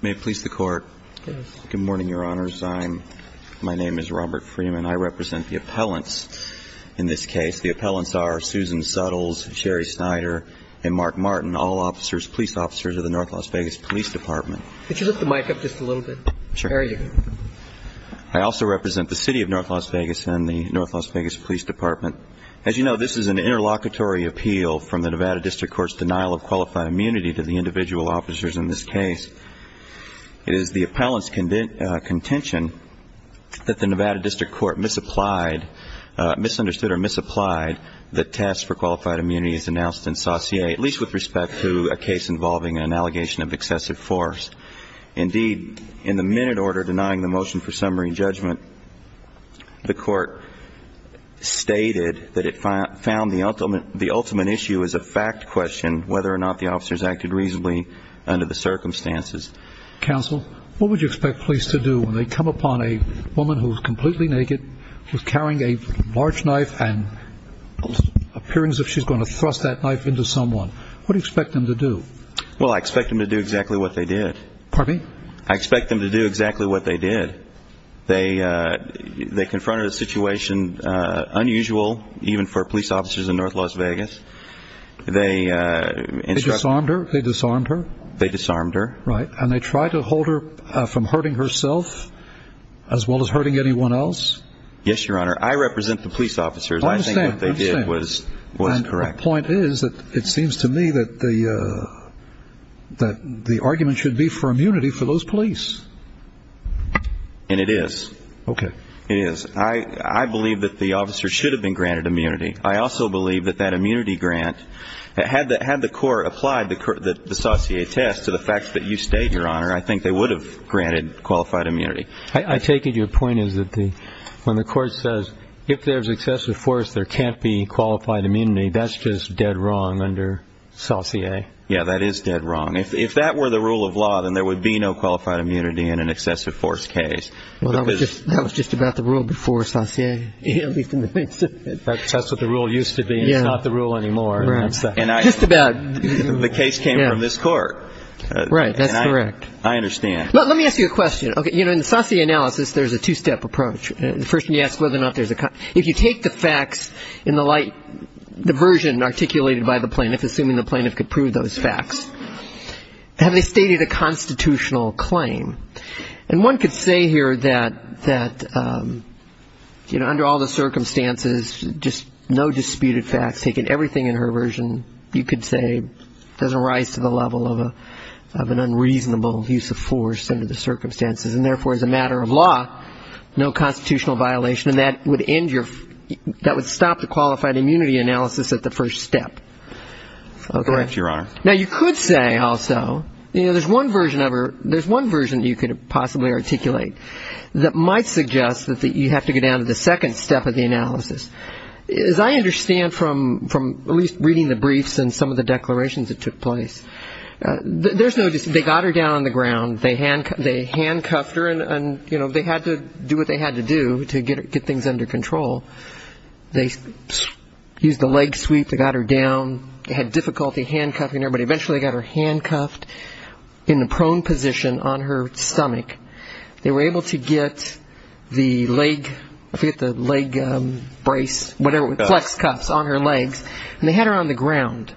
May it please the Court? Yes. Good morning, Your Honors. I'm – my name is Robert Freeman. I represent the appellants in this case. The appellants are Susan Suttles, Sherry Snyder, and Mark Martin, all officers – police officers of the North Las Vegas Police Department. Could you lift the mic up just a little bit? Sure. There you go. I also represent the City of North Las Vegas and the North Las Vegas Police Department. As you know, this is an interlocutory appeal from the Nevada District Court's denial of qualified immunity to the individual officers in this case. It is the appellant's contention that the Nevada District Court misapplied – misunderstood or misapplied the test for qualified immunity as announced in Saussure, at least with respect to a case involving an allegation of excessive force. Indeed, in the minute order denying the motion for summary judgment, the Court stated that it found the ultimate issue is a fact question, whether or not the officers acted reasonably under the circumstances. Counsel, what would you expect police to do when they come upon a woman who is completely naked, who is carrying a large knife and appears as if she's going to thrust that knife into someone? What do you expect them to do? Well, I expect them to do exactly what they did. Pardon me? I expect them to do exactly what they did. They confronted a situation unusual even for police officers in North Las Vegas. They disarmed her? They disarmed her. Right. And they tried to hold her from hurting herself as well as hurting anyone else? Yes, Your Honor. I represent the police officers. I understand. I think what they did was correct. My point is that it seems to me that the argument should be for immunity for those police. And it is. Okay. It is. I believe that the officers should have been granted immunity. I also believe that that immunity grant, had the Court applied the Saussure test to the facts that you state, Your Honor, I think they would have granted qualified immunity. I take it your point is that when the Court says if there's excessive force, there can't be qualified immunity, that's just dead wrong under Saussure? Yes, that is dead wrong. If that were the rule of law, then there would be no qualified immunity in an excessive force case. That was just about the rule before Saussure. At least in the case. That's what the rule used to be. It's not the rule anymore. Just about. The case came from this Court. Right. That's correct. I understand. Let me ask you a question. Okay. You know, in the Saussure analysis, there's a two-step approach. First, when you ask whether or not there's a, if you take the facts in the light, the version articulated by the plaintiff, assuming the plaintiff could prove those facts, have they stated a constitutional claim? And one could say here that, you know, under all the circumstances, just no disputed facts, taking everything in her version, you could say doesn't rise to the level of an unreasonable use of force under the circumstances, and therefore, as a matter of law, no constitutional violation. And that would end your, that would stop the qualified immunity analysis at the first step. Correct, Your Honor. Now, you could say also, you know, there's one version of her, there's one version you could possibly articulate that might suggest that you have to go down to the second step of the analysis. As I understand from at least reading the briefs and some of the declarations that took place, there's no dispute, they got her down on the ground, they handcuffed her, and, you know, they had to do what they had to do to get things under control. They used the leg sweep to get her down, they had difficulty handcuffing her, but eventually they got her handcuffed in a prone position on her stomach. They were able to get the leg, I forget the leg brace, whatever, flex cuffs on her legs, and they had her on the ground.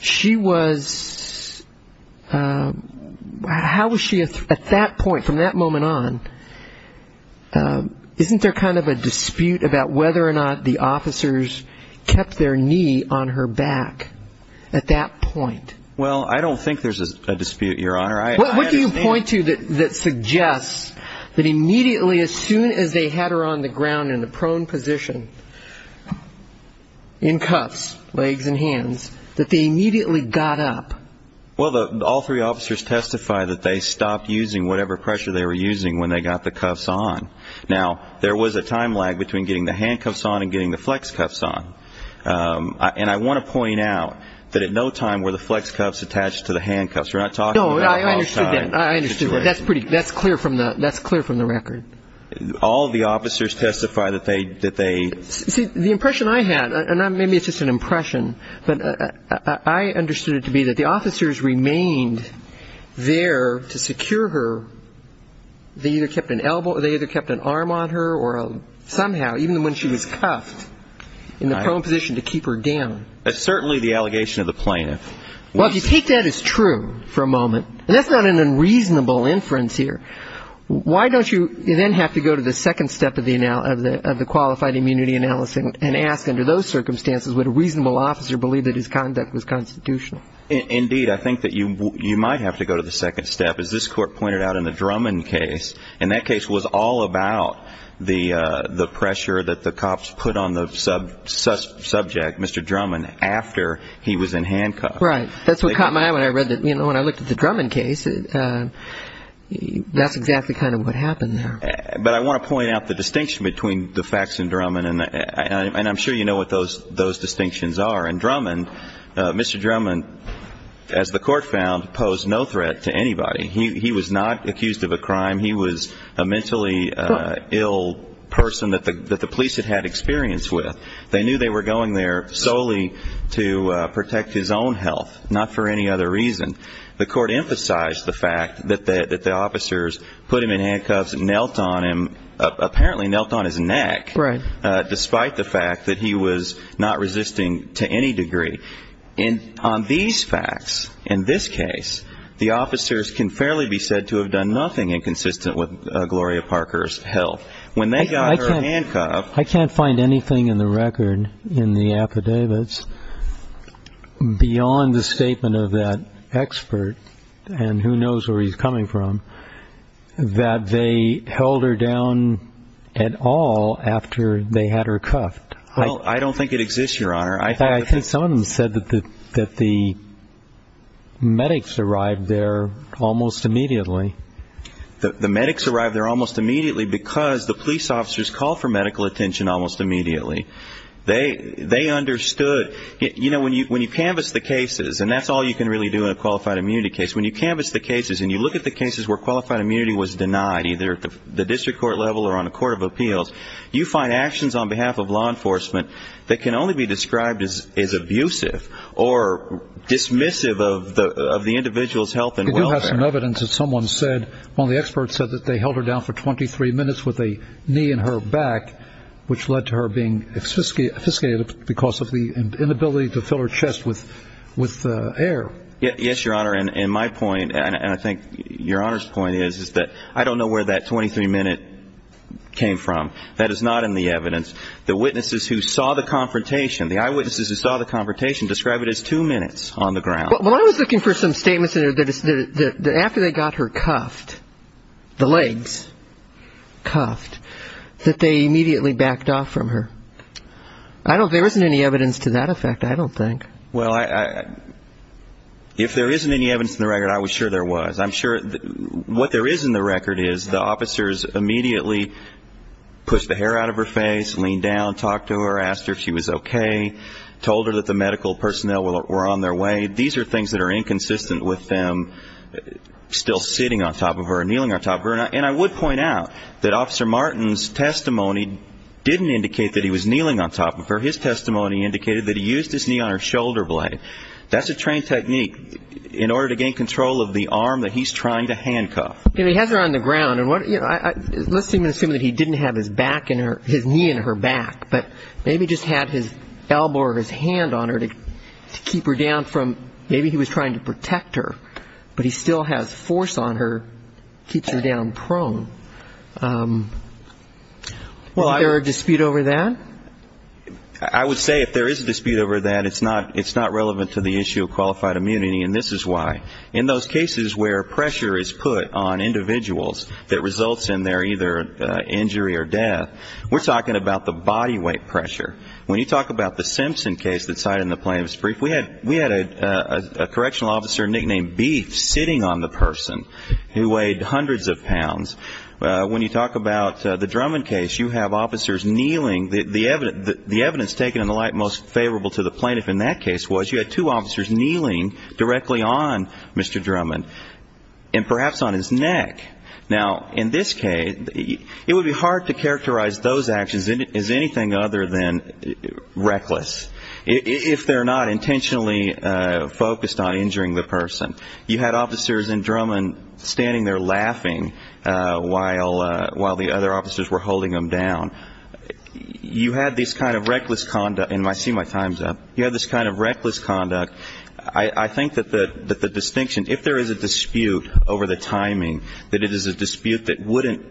She was, how was she at that point, from that moment on, isn't there kind of a dispute about whether or not the officers kept their knee on her back at that point? Well, I don't think there's a dispute, Your Honor. What do you point to that suggests that immediately, as soon as they had her on the ground in a prone position in cuffs, legs and hands, that they immediately got up? Well, all three officers testified that they stopped using whatever pressure they were using when they got the cuffs on. Now, there was a time lag between getting the handcuffs on and getting the flex cuffs on, and I want to point out that at no time were the flex cuffs attached to the handcuffs. We're not talking about a hostile situation. No, I understood that. I understood that. That's clear from the record. All of the officers testify that they... See, the impression I had, and maybe it's just an impression, but I understood it to be that the officers remained there to secure her. They either kept an elbow or they either kept an arm on her or somehow, even when she was cuffed, in the prone position to keep her down. That's certainly the allegation of the plaintiff. Well, if you take that as true for a moment, and that's not an unreasonable inference here, why don't you then have to go to the second step of the qualified immunity analysis and ask under those circumstances, would a reasonable officer believe that his conduct was constitutional? Indeed, I think that you might have to go to the second step. As this Court pointed out in the Drummond case, and that case was all about the pressure that the cops put on the subject, Mr. Drummond, after he was in handcuffs. Right. That's what caught my eye when I looked at the Drummond case. That's exactly kind of what happened there. But I want to point out the distinction between the facts in Drummond, and I'm sure you know what those distinctions are. In Drummond, Mr. Drummond, as the Court found, posed no threat to anybody. He was not accused of a crime. He was a mentally ill person that the police had had experience with. They knew they were going there solely to protect his own health, not for any other reason. The Court emphasized the fact that the officers put him in handcuffs and knelt on him, apparently knelt on his neck. Right. Despite the fact that he was not resisting to any degree. And on these facts, in this case, the officers can fairly be said to have done nothing inconsistent with Gloria Parker's health. I can't find anything in the record, in the affidavits, beyond the statement of that expert, and who knows where he's coming from, that they held her down at all after they had her cuffed. I don't think it exists, Your Honor. I think some of them said that the medics arrived there almost immediately. The medics arrived there almost immediately because the police officers called for medical attention almost immediately. They understood. You know, when you canvass the cases, and that's all you can really do in a qualified immunity case, when you canvass the cases and you look at the cases where qualified immunity was denied, either at the district court level or on a court of appeals, you find actions on behalf of law enforcement that can only be described as abusive or dismissive of the individual's health and welfare. I do have some evidence that someone said, one of the experts said that they held her down for 23 minutes with a knee in her back, which led to her being obfuscated because of the inability to fill her chest with air. Yes, Your Honor. And my point, and I think Your Honor's point is, is that I don't know where that 23-minute came from. That is not in the evidence. The witnesses who saw the confrontation, the eyewitnesses who saw the confrontation described it as two minutes on the ground. Well, I was looking for some statements that after they got her cuffed, the legs cuffed, that they immediately backed off from her. There isn't any evidence to that effect, I don't think. Well, if there isn't any evidence in the record, I was sure there was. I'm sure what there is in the record is the officers immediately pushed the hair out of her face, leaned down, talked to her, asked her if she was okay, told her that the medical personnel were on their way. These are things that are inconsistent with them still sitting on top of her or kneeling on top of her. And I would point out that Officer Martin's testimony didn't indicate that he was kneeling on top of her. His testimony indicated that he used his knee on her shoulder blade. That's a trained technique in order to gain control of the arm that he's trying to handcuff. He has her on the ground. Let's assume that he didn't have his knee in her back, but maybe just had his elbow or his hand on her to keep her down from maybe he was trying to protect her, but he still has force on her, keeps her down prone. Is there a dispute over that? I would say if there is a dispute over that, it's not relevant to the issue of qualified immunity, and this is why. In those cases where pressure is put on individuals that results in their either injury or death, we're talking about the body weight pressure. When you talk about the Simpson case that's cited in the plaintiff's brief, we had a correctional officer nicknamed Beef sitting on the person who weighed hundreds of pounds. When you talk about the Drummond case, you have officers kneeling. The evidence taken in the light most favorable to the plaintiff in that case was you had two officers kneeling directly on Mr. Drummond and perhaps on his neck. Now, in this case, it would be hard to characterize those actions as anything other than reckless, if they're not intentionally focused on injuring the person. You had officers and Drummond standing there laughing while the other officers were holding him down. You had this kind of reckless conduct, and I see my time's up. You had this kind of reckless conduct. I think that the distinction, if there is a dispute over the timing, that it is a dispute that wouldn't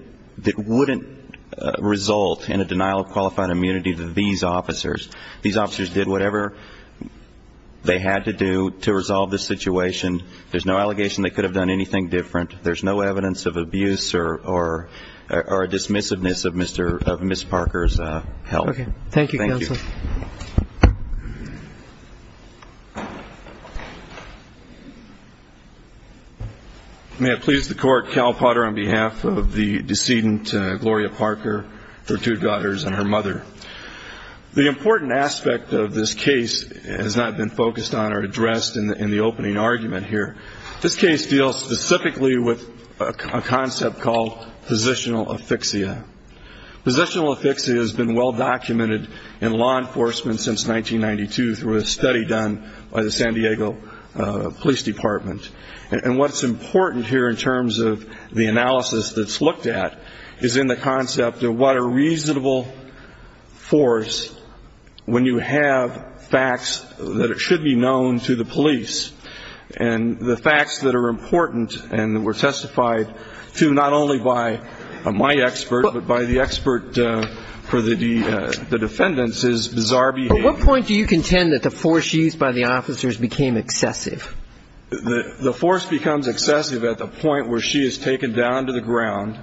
result in a denial of qualified immunity to these officers. These officers did whatever they had to do to resolve this situation. There's no allegation they could have done anything different. There's no evidence of abuse or dismissiveness of Ms. Parker's health. Okay, thank you, Counsel. Thank you. May it please the Court, Cal Potter on behalf of the decedent, Gloria Parker, her two daughters and her mother. The important aspect of this case has not been focused on or addressed in the opening argument here. This case deals specifically with a concept called positional affixia. Positional affixia has been well documented in law enforcement since 1992 through a study done by the San Diego Police Department. And what's important here in terms of the analysis that's looked at is in the concept of what a reasonable force, when you have facts that it should be known to the police, and the facts that are important and were testified to not only by my expert, but by the expert for the defendants is bizarre behavior. At what point do you contend that the force used by the officers became excessive? The force becomes excessive at the point where she is taken down to the ground.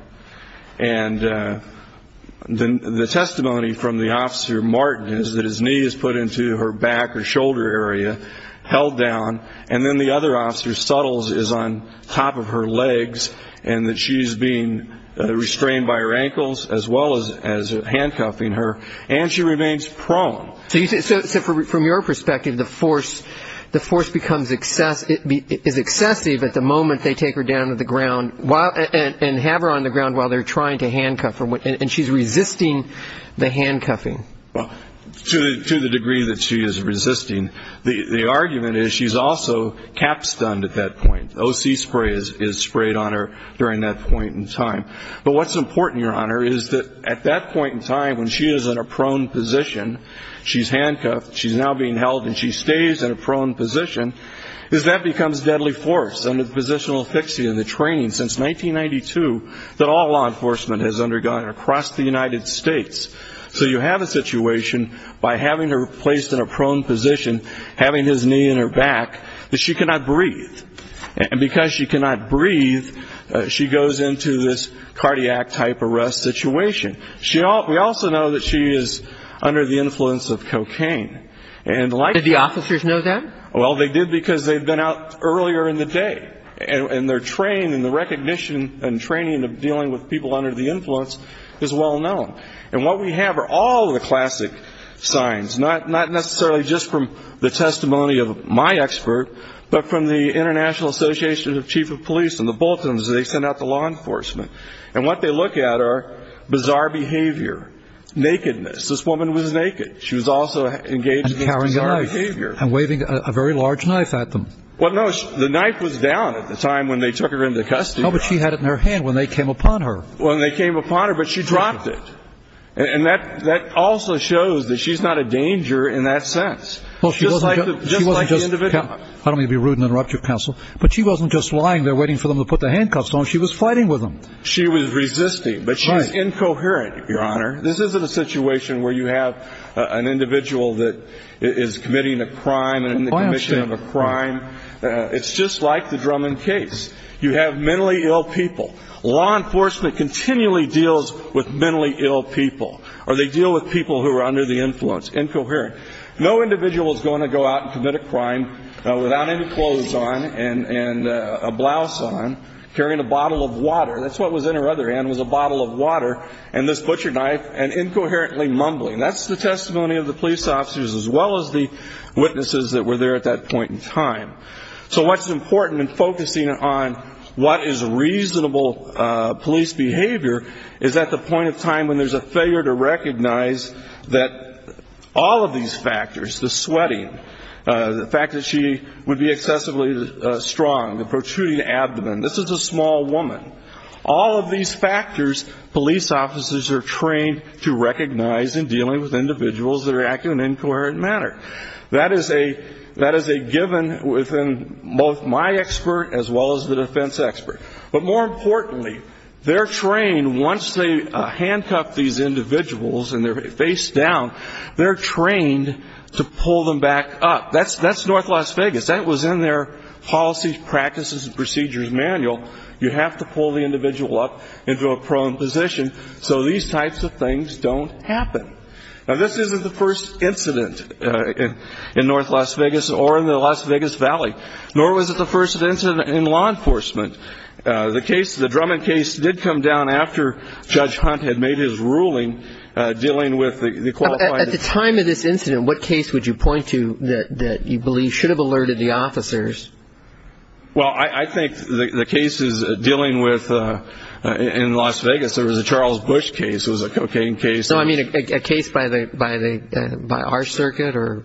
And the testimony from the officer, Martin, is that his knee is put into her back or shoulder area, held down. And then the other officer, Suttles, is on top of her legs and that she's being restrained by her ankles as well as handcuffing her, and she remains prone. So from your perspective, the force becomes excessive, is excessive at the moment they take her down to the ground and have her on the ground while they're trying to handcuff her, and she's resisting the handcuffing. Well, to the degree that she is resisting, the argument is she's also cap stunned at that point. O.C. spray is sprayed on her during that point in time. But what's important, Your Honor, is that at that point in time when she is in a prone position, she's handcuffed, she's now being held, and she stays in a prone position, is that becomes deadly force under the positional fixie and the training since 1992 that all law enforcement has undergone across the United States. So you have a situation by having her placed in a prone position, having his knee in her back, that she cannot breathe. And because she cannot breathe, she goes into this cardiac type arrest situation. We also know that she is under the influence of cocaine. Did the officers know that? Well, they did because they'd been out earlier in the day, and their training and the recognition and training of dealing with people under the influence is well known. And what we have are all the classic signs, not necessarily just from the testimony of my expert, but from the International Association of Chief of Police and the bulletins they send out to law enforcement. And what they look at are bizarre behavior, nakedness. This woman was naked. She was also engaged in bizarre behavior. And carrying a knife and waving a very large knife at them. Well, no, the knife was down at the time when they took her into custody. No, but she had it in her hand when they came upon her. When they came upon her, but she dropped it. And that also shows that she's not a danger in that sense. Just like the individual. I don't mean to be rude and interrupt you, counsel, but she wasn't just lying there waiting for them to put the handcuffs on. She was fighting with them. She was resisting, but she's incoherent, Your Honor. This isn't a situation where you have an individual that is committing a crime and in the commission of a crime. It's just like the Drummond case. You have mentally ill people. Law enforcement continually deals with mentally ill people. Or they deal with people who are under the influence. Incoherent. No individual is going to go out and commit a crime without any clothes on and a blouse on, carrying a bottle of water. That's what was in her other hand was a bottle of water and this butcher knife and incoherently mumbling. That's the testimony of the police officers as well as the witnesses that were there at that point in time. So what's important in focusing on what is reasonable police behavior is at the point of time when there's a failure to recognize that all of these factors, the sweating, the fact that she would be excessively strong, the protruding abdomen, this is a small woman, all of these factors police officers are trained to recognize in dealing with individuals that are acting in an incoherent manner. That is a given within both my expert as well as the defense expert. But more importantly, they're trained once they handcuff these individuals and they're face down, they're trained to pull them back up. That's north Las Vegas. That was in their policies, practices and procedures manual. You have to pull the individual up into a prone position so these types of things don't happen. Now, this isn't the first incident in north Las Vegas or in the Las Vegas Valley, nor was it the first incident in law enforcement. The case, the Drummond case did come down after Judge Hunt had made his ruling dealing with the qualified. At the time of this incident, what case would you point to that you believe should have alerted the officers? Well, I think the cases dealing with in Las Vegas, there was a Charles Bush case, it was a cocaine case. So, I mean, a case by our circuit or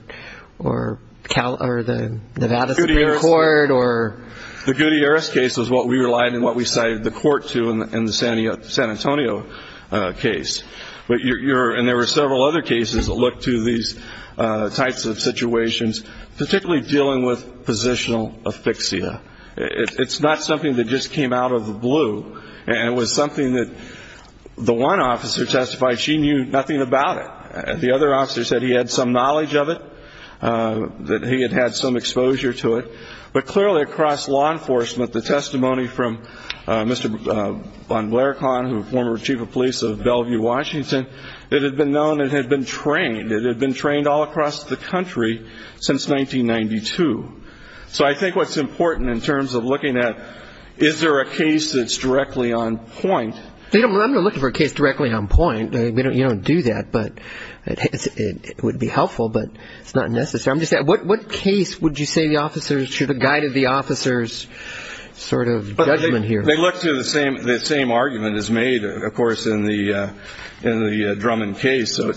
the Nevada Supreme Court or? The Gutierrez case was what we relied and what we cited the court to in the San Antonio case. And there were several other cases that looked to these types of situations, particularly dealing with positional asphyxia. It's not something that just came out of the blue. And it was something that the one officer testified she knew nothing about it. The other officer said he had some knowledge of it, that he had had some exposure to it. But clearly, across law enforcement, the testimony from Mr. Von Blaircon, who was former chief of police of Bellevue, Washington, it had been known it had been trained. It had been trained all across the country since 1992. So I think what's important in terms of looking at is there a case that's directly on point? I'm not looking for a case directly on point. You don't do that, but it would be helpful, but it's not necessary. What case would you say the officers should have guided the officers' sort of judgment here? They look to the same argument as made, of course, in the Drummond case. So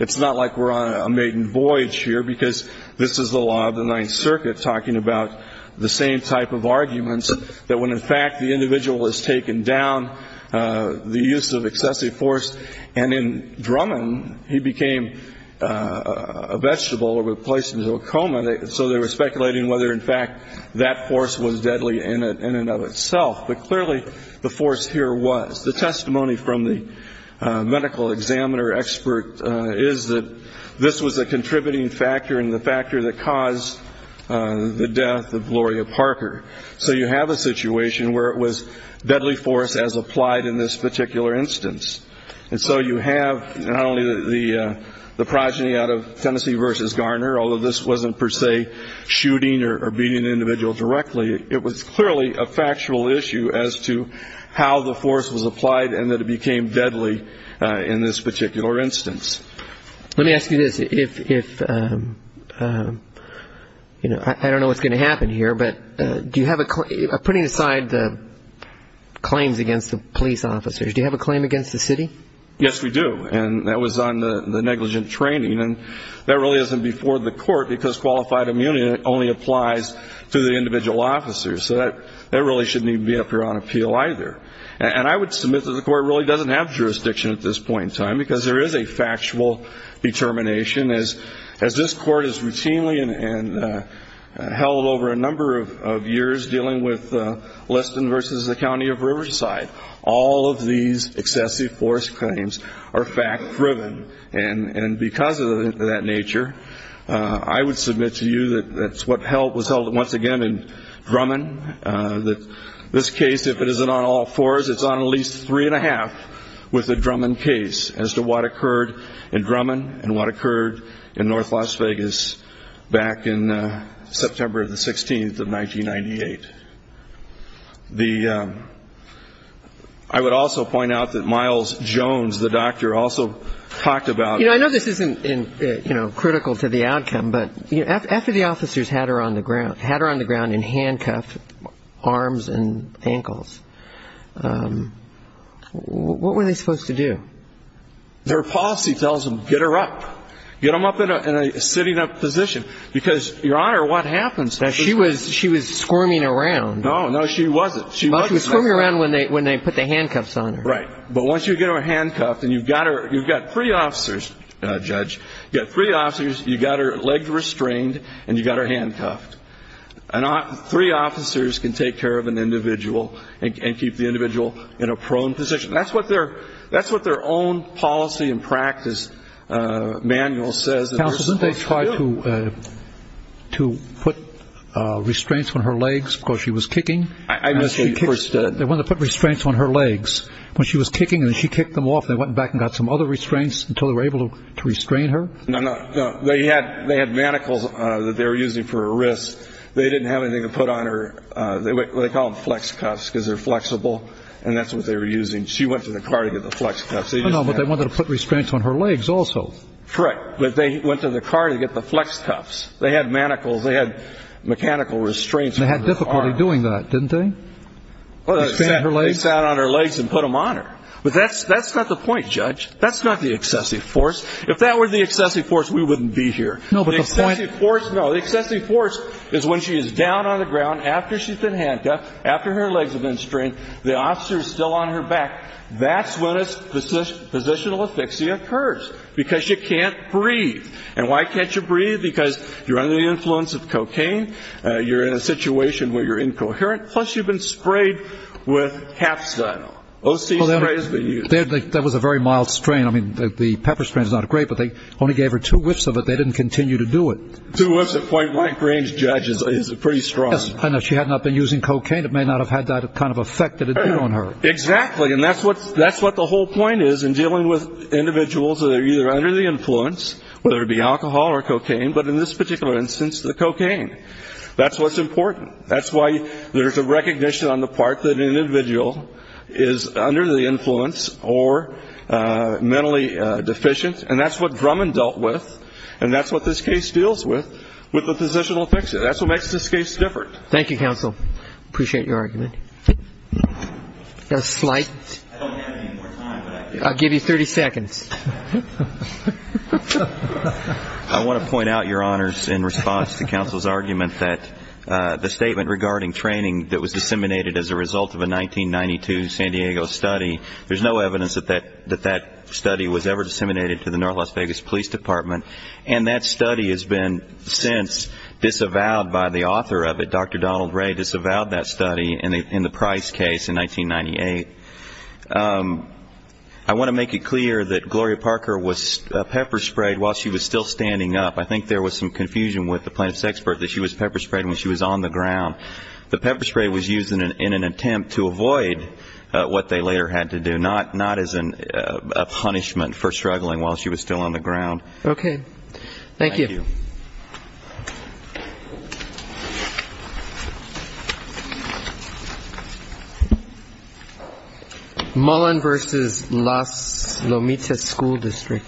it's not like we're on a maiden voyage here because this is the law of the Ninth Circuit, talking about the same type of arguments that when, in fact, the individual is taken down, the use of excessive force. And in Drummond, he became a vegetable or was placed into a coma, so they were speculating whether, in fact, that force was deadly in and of itself. But clearly the force here was. The testimony from the medical examiner expert is that this was a contributing factor and the factor that caused the death of Gloria Parker. So you have a situation where it was deadly force as applied in this particular instance. And so you have not only the progeny out of Tennessee v. Garner, although this wasn't per se shooting or beating an individual directly, it was clearly a factual issue as to how the force was applied and that it became deadly in this particular instance. Let me ask you this. I don't know what's going to happen here, but putting aside the claims against the police officers, do you have a claim against the city? Yes, we do. And that was on the negligent training. And that really isn't before the court because qualified immunity only applies to the individual officers. So that really shouldn't even be up here on appeal either. And I would submit that the court really doesn't have jurisdiction at this point in time because there is a factual determination. As this court has routinely held over a number of years dealing with Liston v. the County of Riverside, all of these excessive force claims are fact-driven. And because of that nature, I would submit to you that's what was held once again in Drummond, that this case, if it isn't on all fours, it's on at least three and a half with the Drummond case as to what occurred in Drummond and what occurred in North Las Vegas back in September the 16th of 1998. The ‑‑ I would also point out that Miles Jones, the doctor, also talked about ‑‑ You know, I know this isn't, you know, critical to the outcome, but after the officers had her on the ground in handcuffs, arms and ankles, what were they supposed to do? Their policy tells them get her up. Get them up in a sitting up position because, Your Honor, what happens? Now, she was squirming around. No, no, she wasn't. She was squirming around when they put the handcuffs on her. Right. But once you get her handcuffed and you've got three officers, Judge, you've got three officers, you've got her legs restrained, and you've got her handcuffed. Three officers can take care of an individual and keep the individual in a prone position. That's what their own policy and practice manual says that they're supposed to do. They wanted to put restraints on her legs because she was kicking. They wanted to put restraints on her legs. When she was kicking and she kicked them off, they went back and got some other restraints until they were able to restrain her? No, no. They had manacles that they were using for her wrists. They didn't have anything to put on her. They call them flex cuffs because they're flexible, and that's what they were using. She went to the car to get the flex cuffs. But they wanted to put restraints on her legs also. Correct. But they went to the car to get the flex cuffs. They had manacles. They had mechanical restraints on her arms. They had difficulty doing that, didn't they? They sat on her legs and put them on her. But that's not the point, Judge. That's not the excessive force. If that were the excessive force, we wouldn't be here. No, but the point of the force, no. The excessive force is when she is down on the ground after she's been handcuffed, after her legs have been strained, the officer is still on her back. That's when it's positional asphyxia occurs because you can't breathe. And why can't you breathe? Because you're under the influence of cocaine. You're in a situation where you're incoherent. Plus, you've been sprayed with capstan. OC spray has been used. That was a very mild strain. I mean, the pepper strain is not great, but they only gave her two whiffs of it. They didn't continue to do it. Two whiffs at point blank range, Judge, is pretty strong. I know. She had not been using cocaine. It may not have had that kind of effect that it did on her. Exactly. And that's what the whole point is in dealing with individuals that are either under the influence, whether it be alcohol or cocaine, but in this particular instance, the cocaine. That's what's important. That's why there's a recognition on the part that an individual is under the influence or mentally deficient. And that's what Drummond dealt with, and that's what this case deals with, with the positional asphyxia. That's what makes this case different. Thank you, counsel. Appreciate your argument. I don't have any more time. I'll give you 30 seconds. I want to point out, Your Honors, in response to counsel's argument, that the statement regarding training that was disseminated as a result of a 1992 San Diego study, there's no evidence that that study was ever disseminated to the North Las Vegas Police Department, and that study has been since disavowed by the author of it, Dr. Donald Ray, disavowed that study, in the Price case in 1998. I want to make it clear that Gloria Parker was pepper sprayed while she was still standing up. I think there was some confusion with the plaintiff's expert that she was pepper sprayed when she was on the ground. The pepper spray was used in an attempt to avoid what they later had to do, not as a punishment for struggling while she was still on the ground. Okay. Thank you. Thank you. Mullen v. Las Lomitas School District.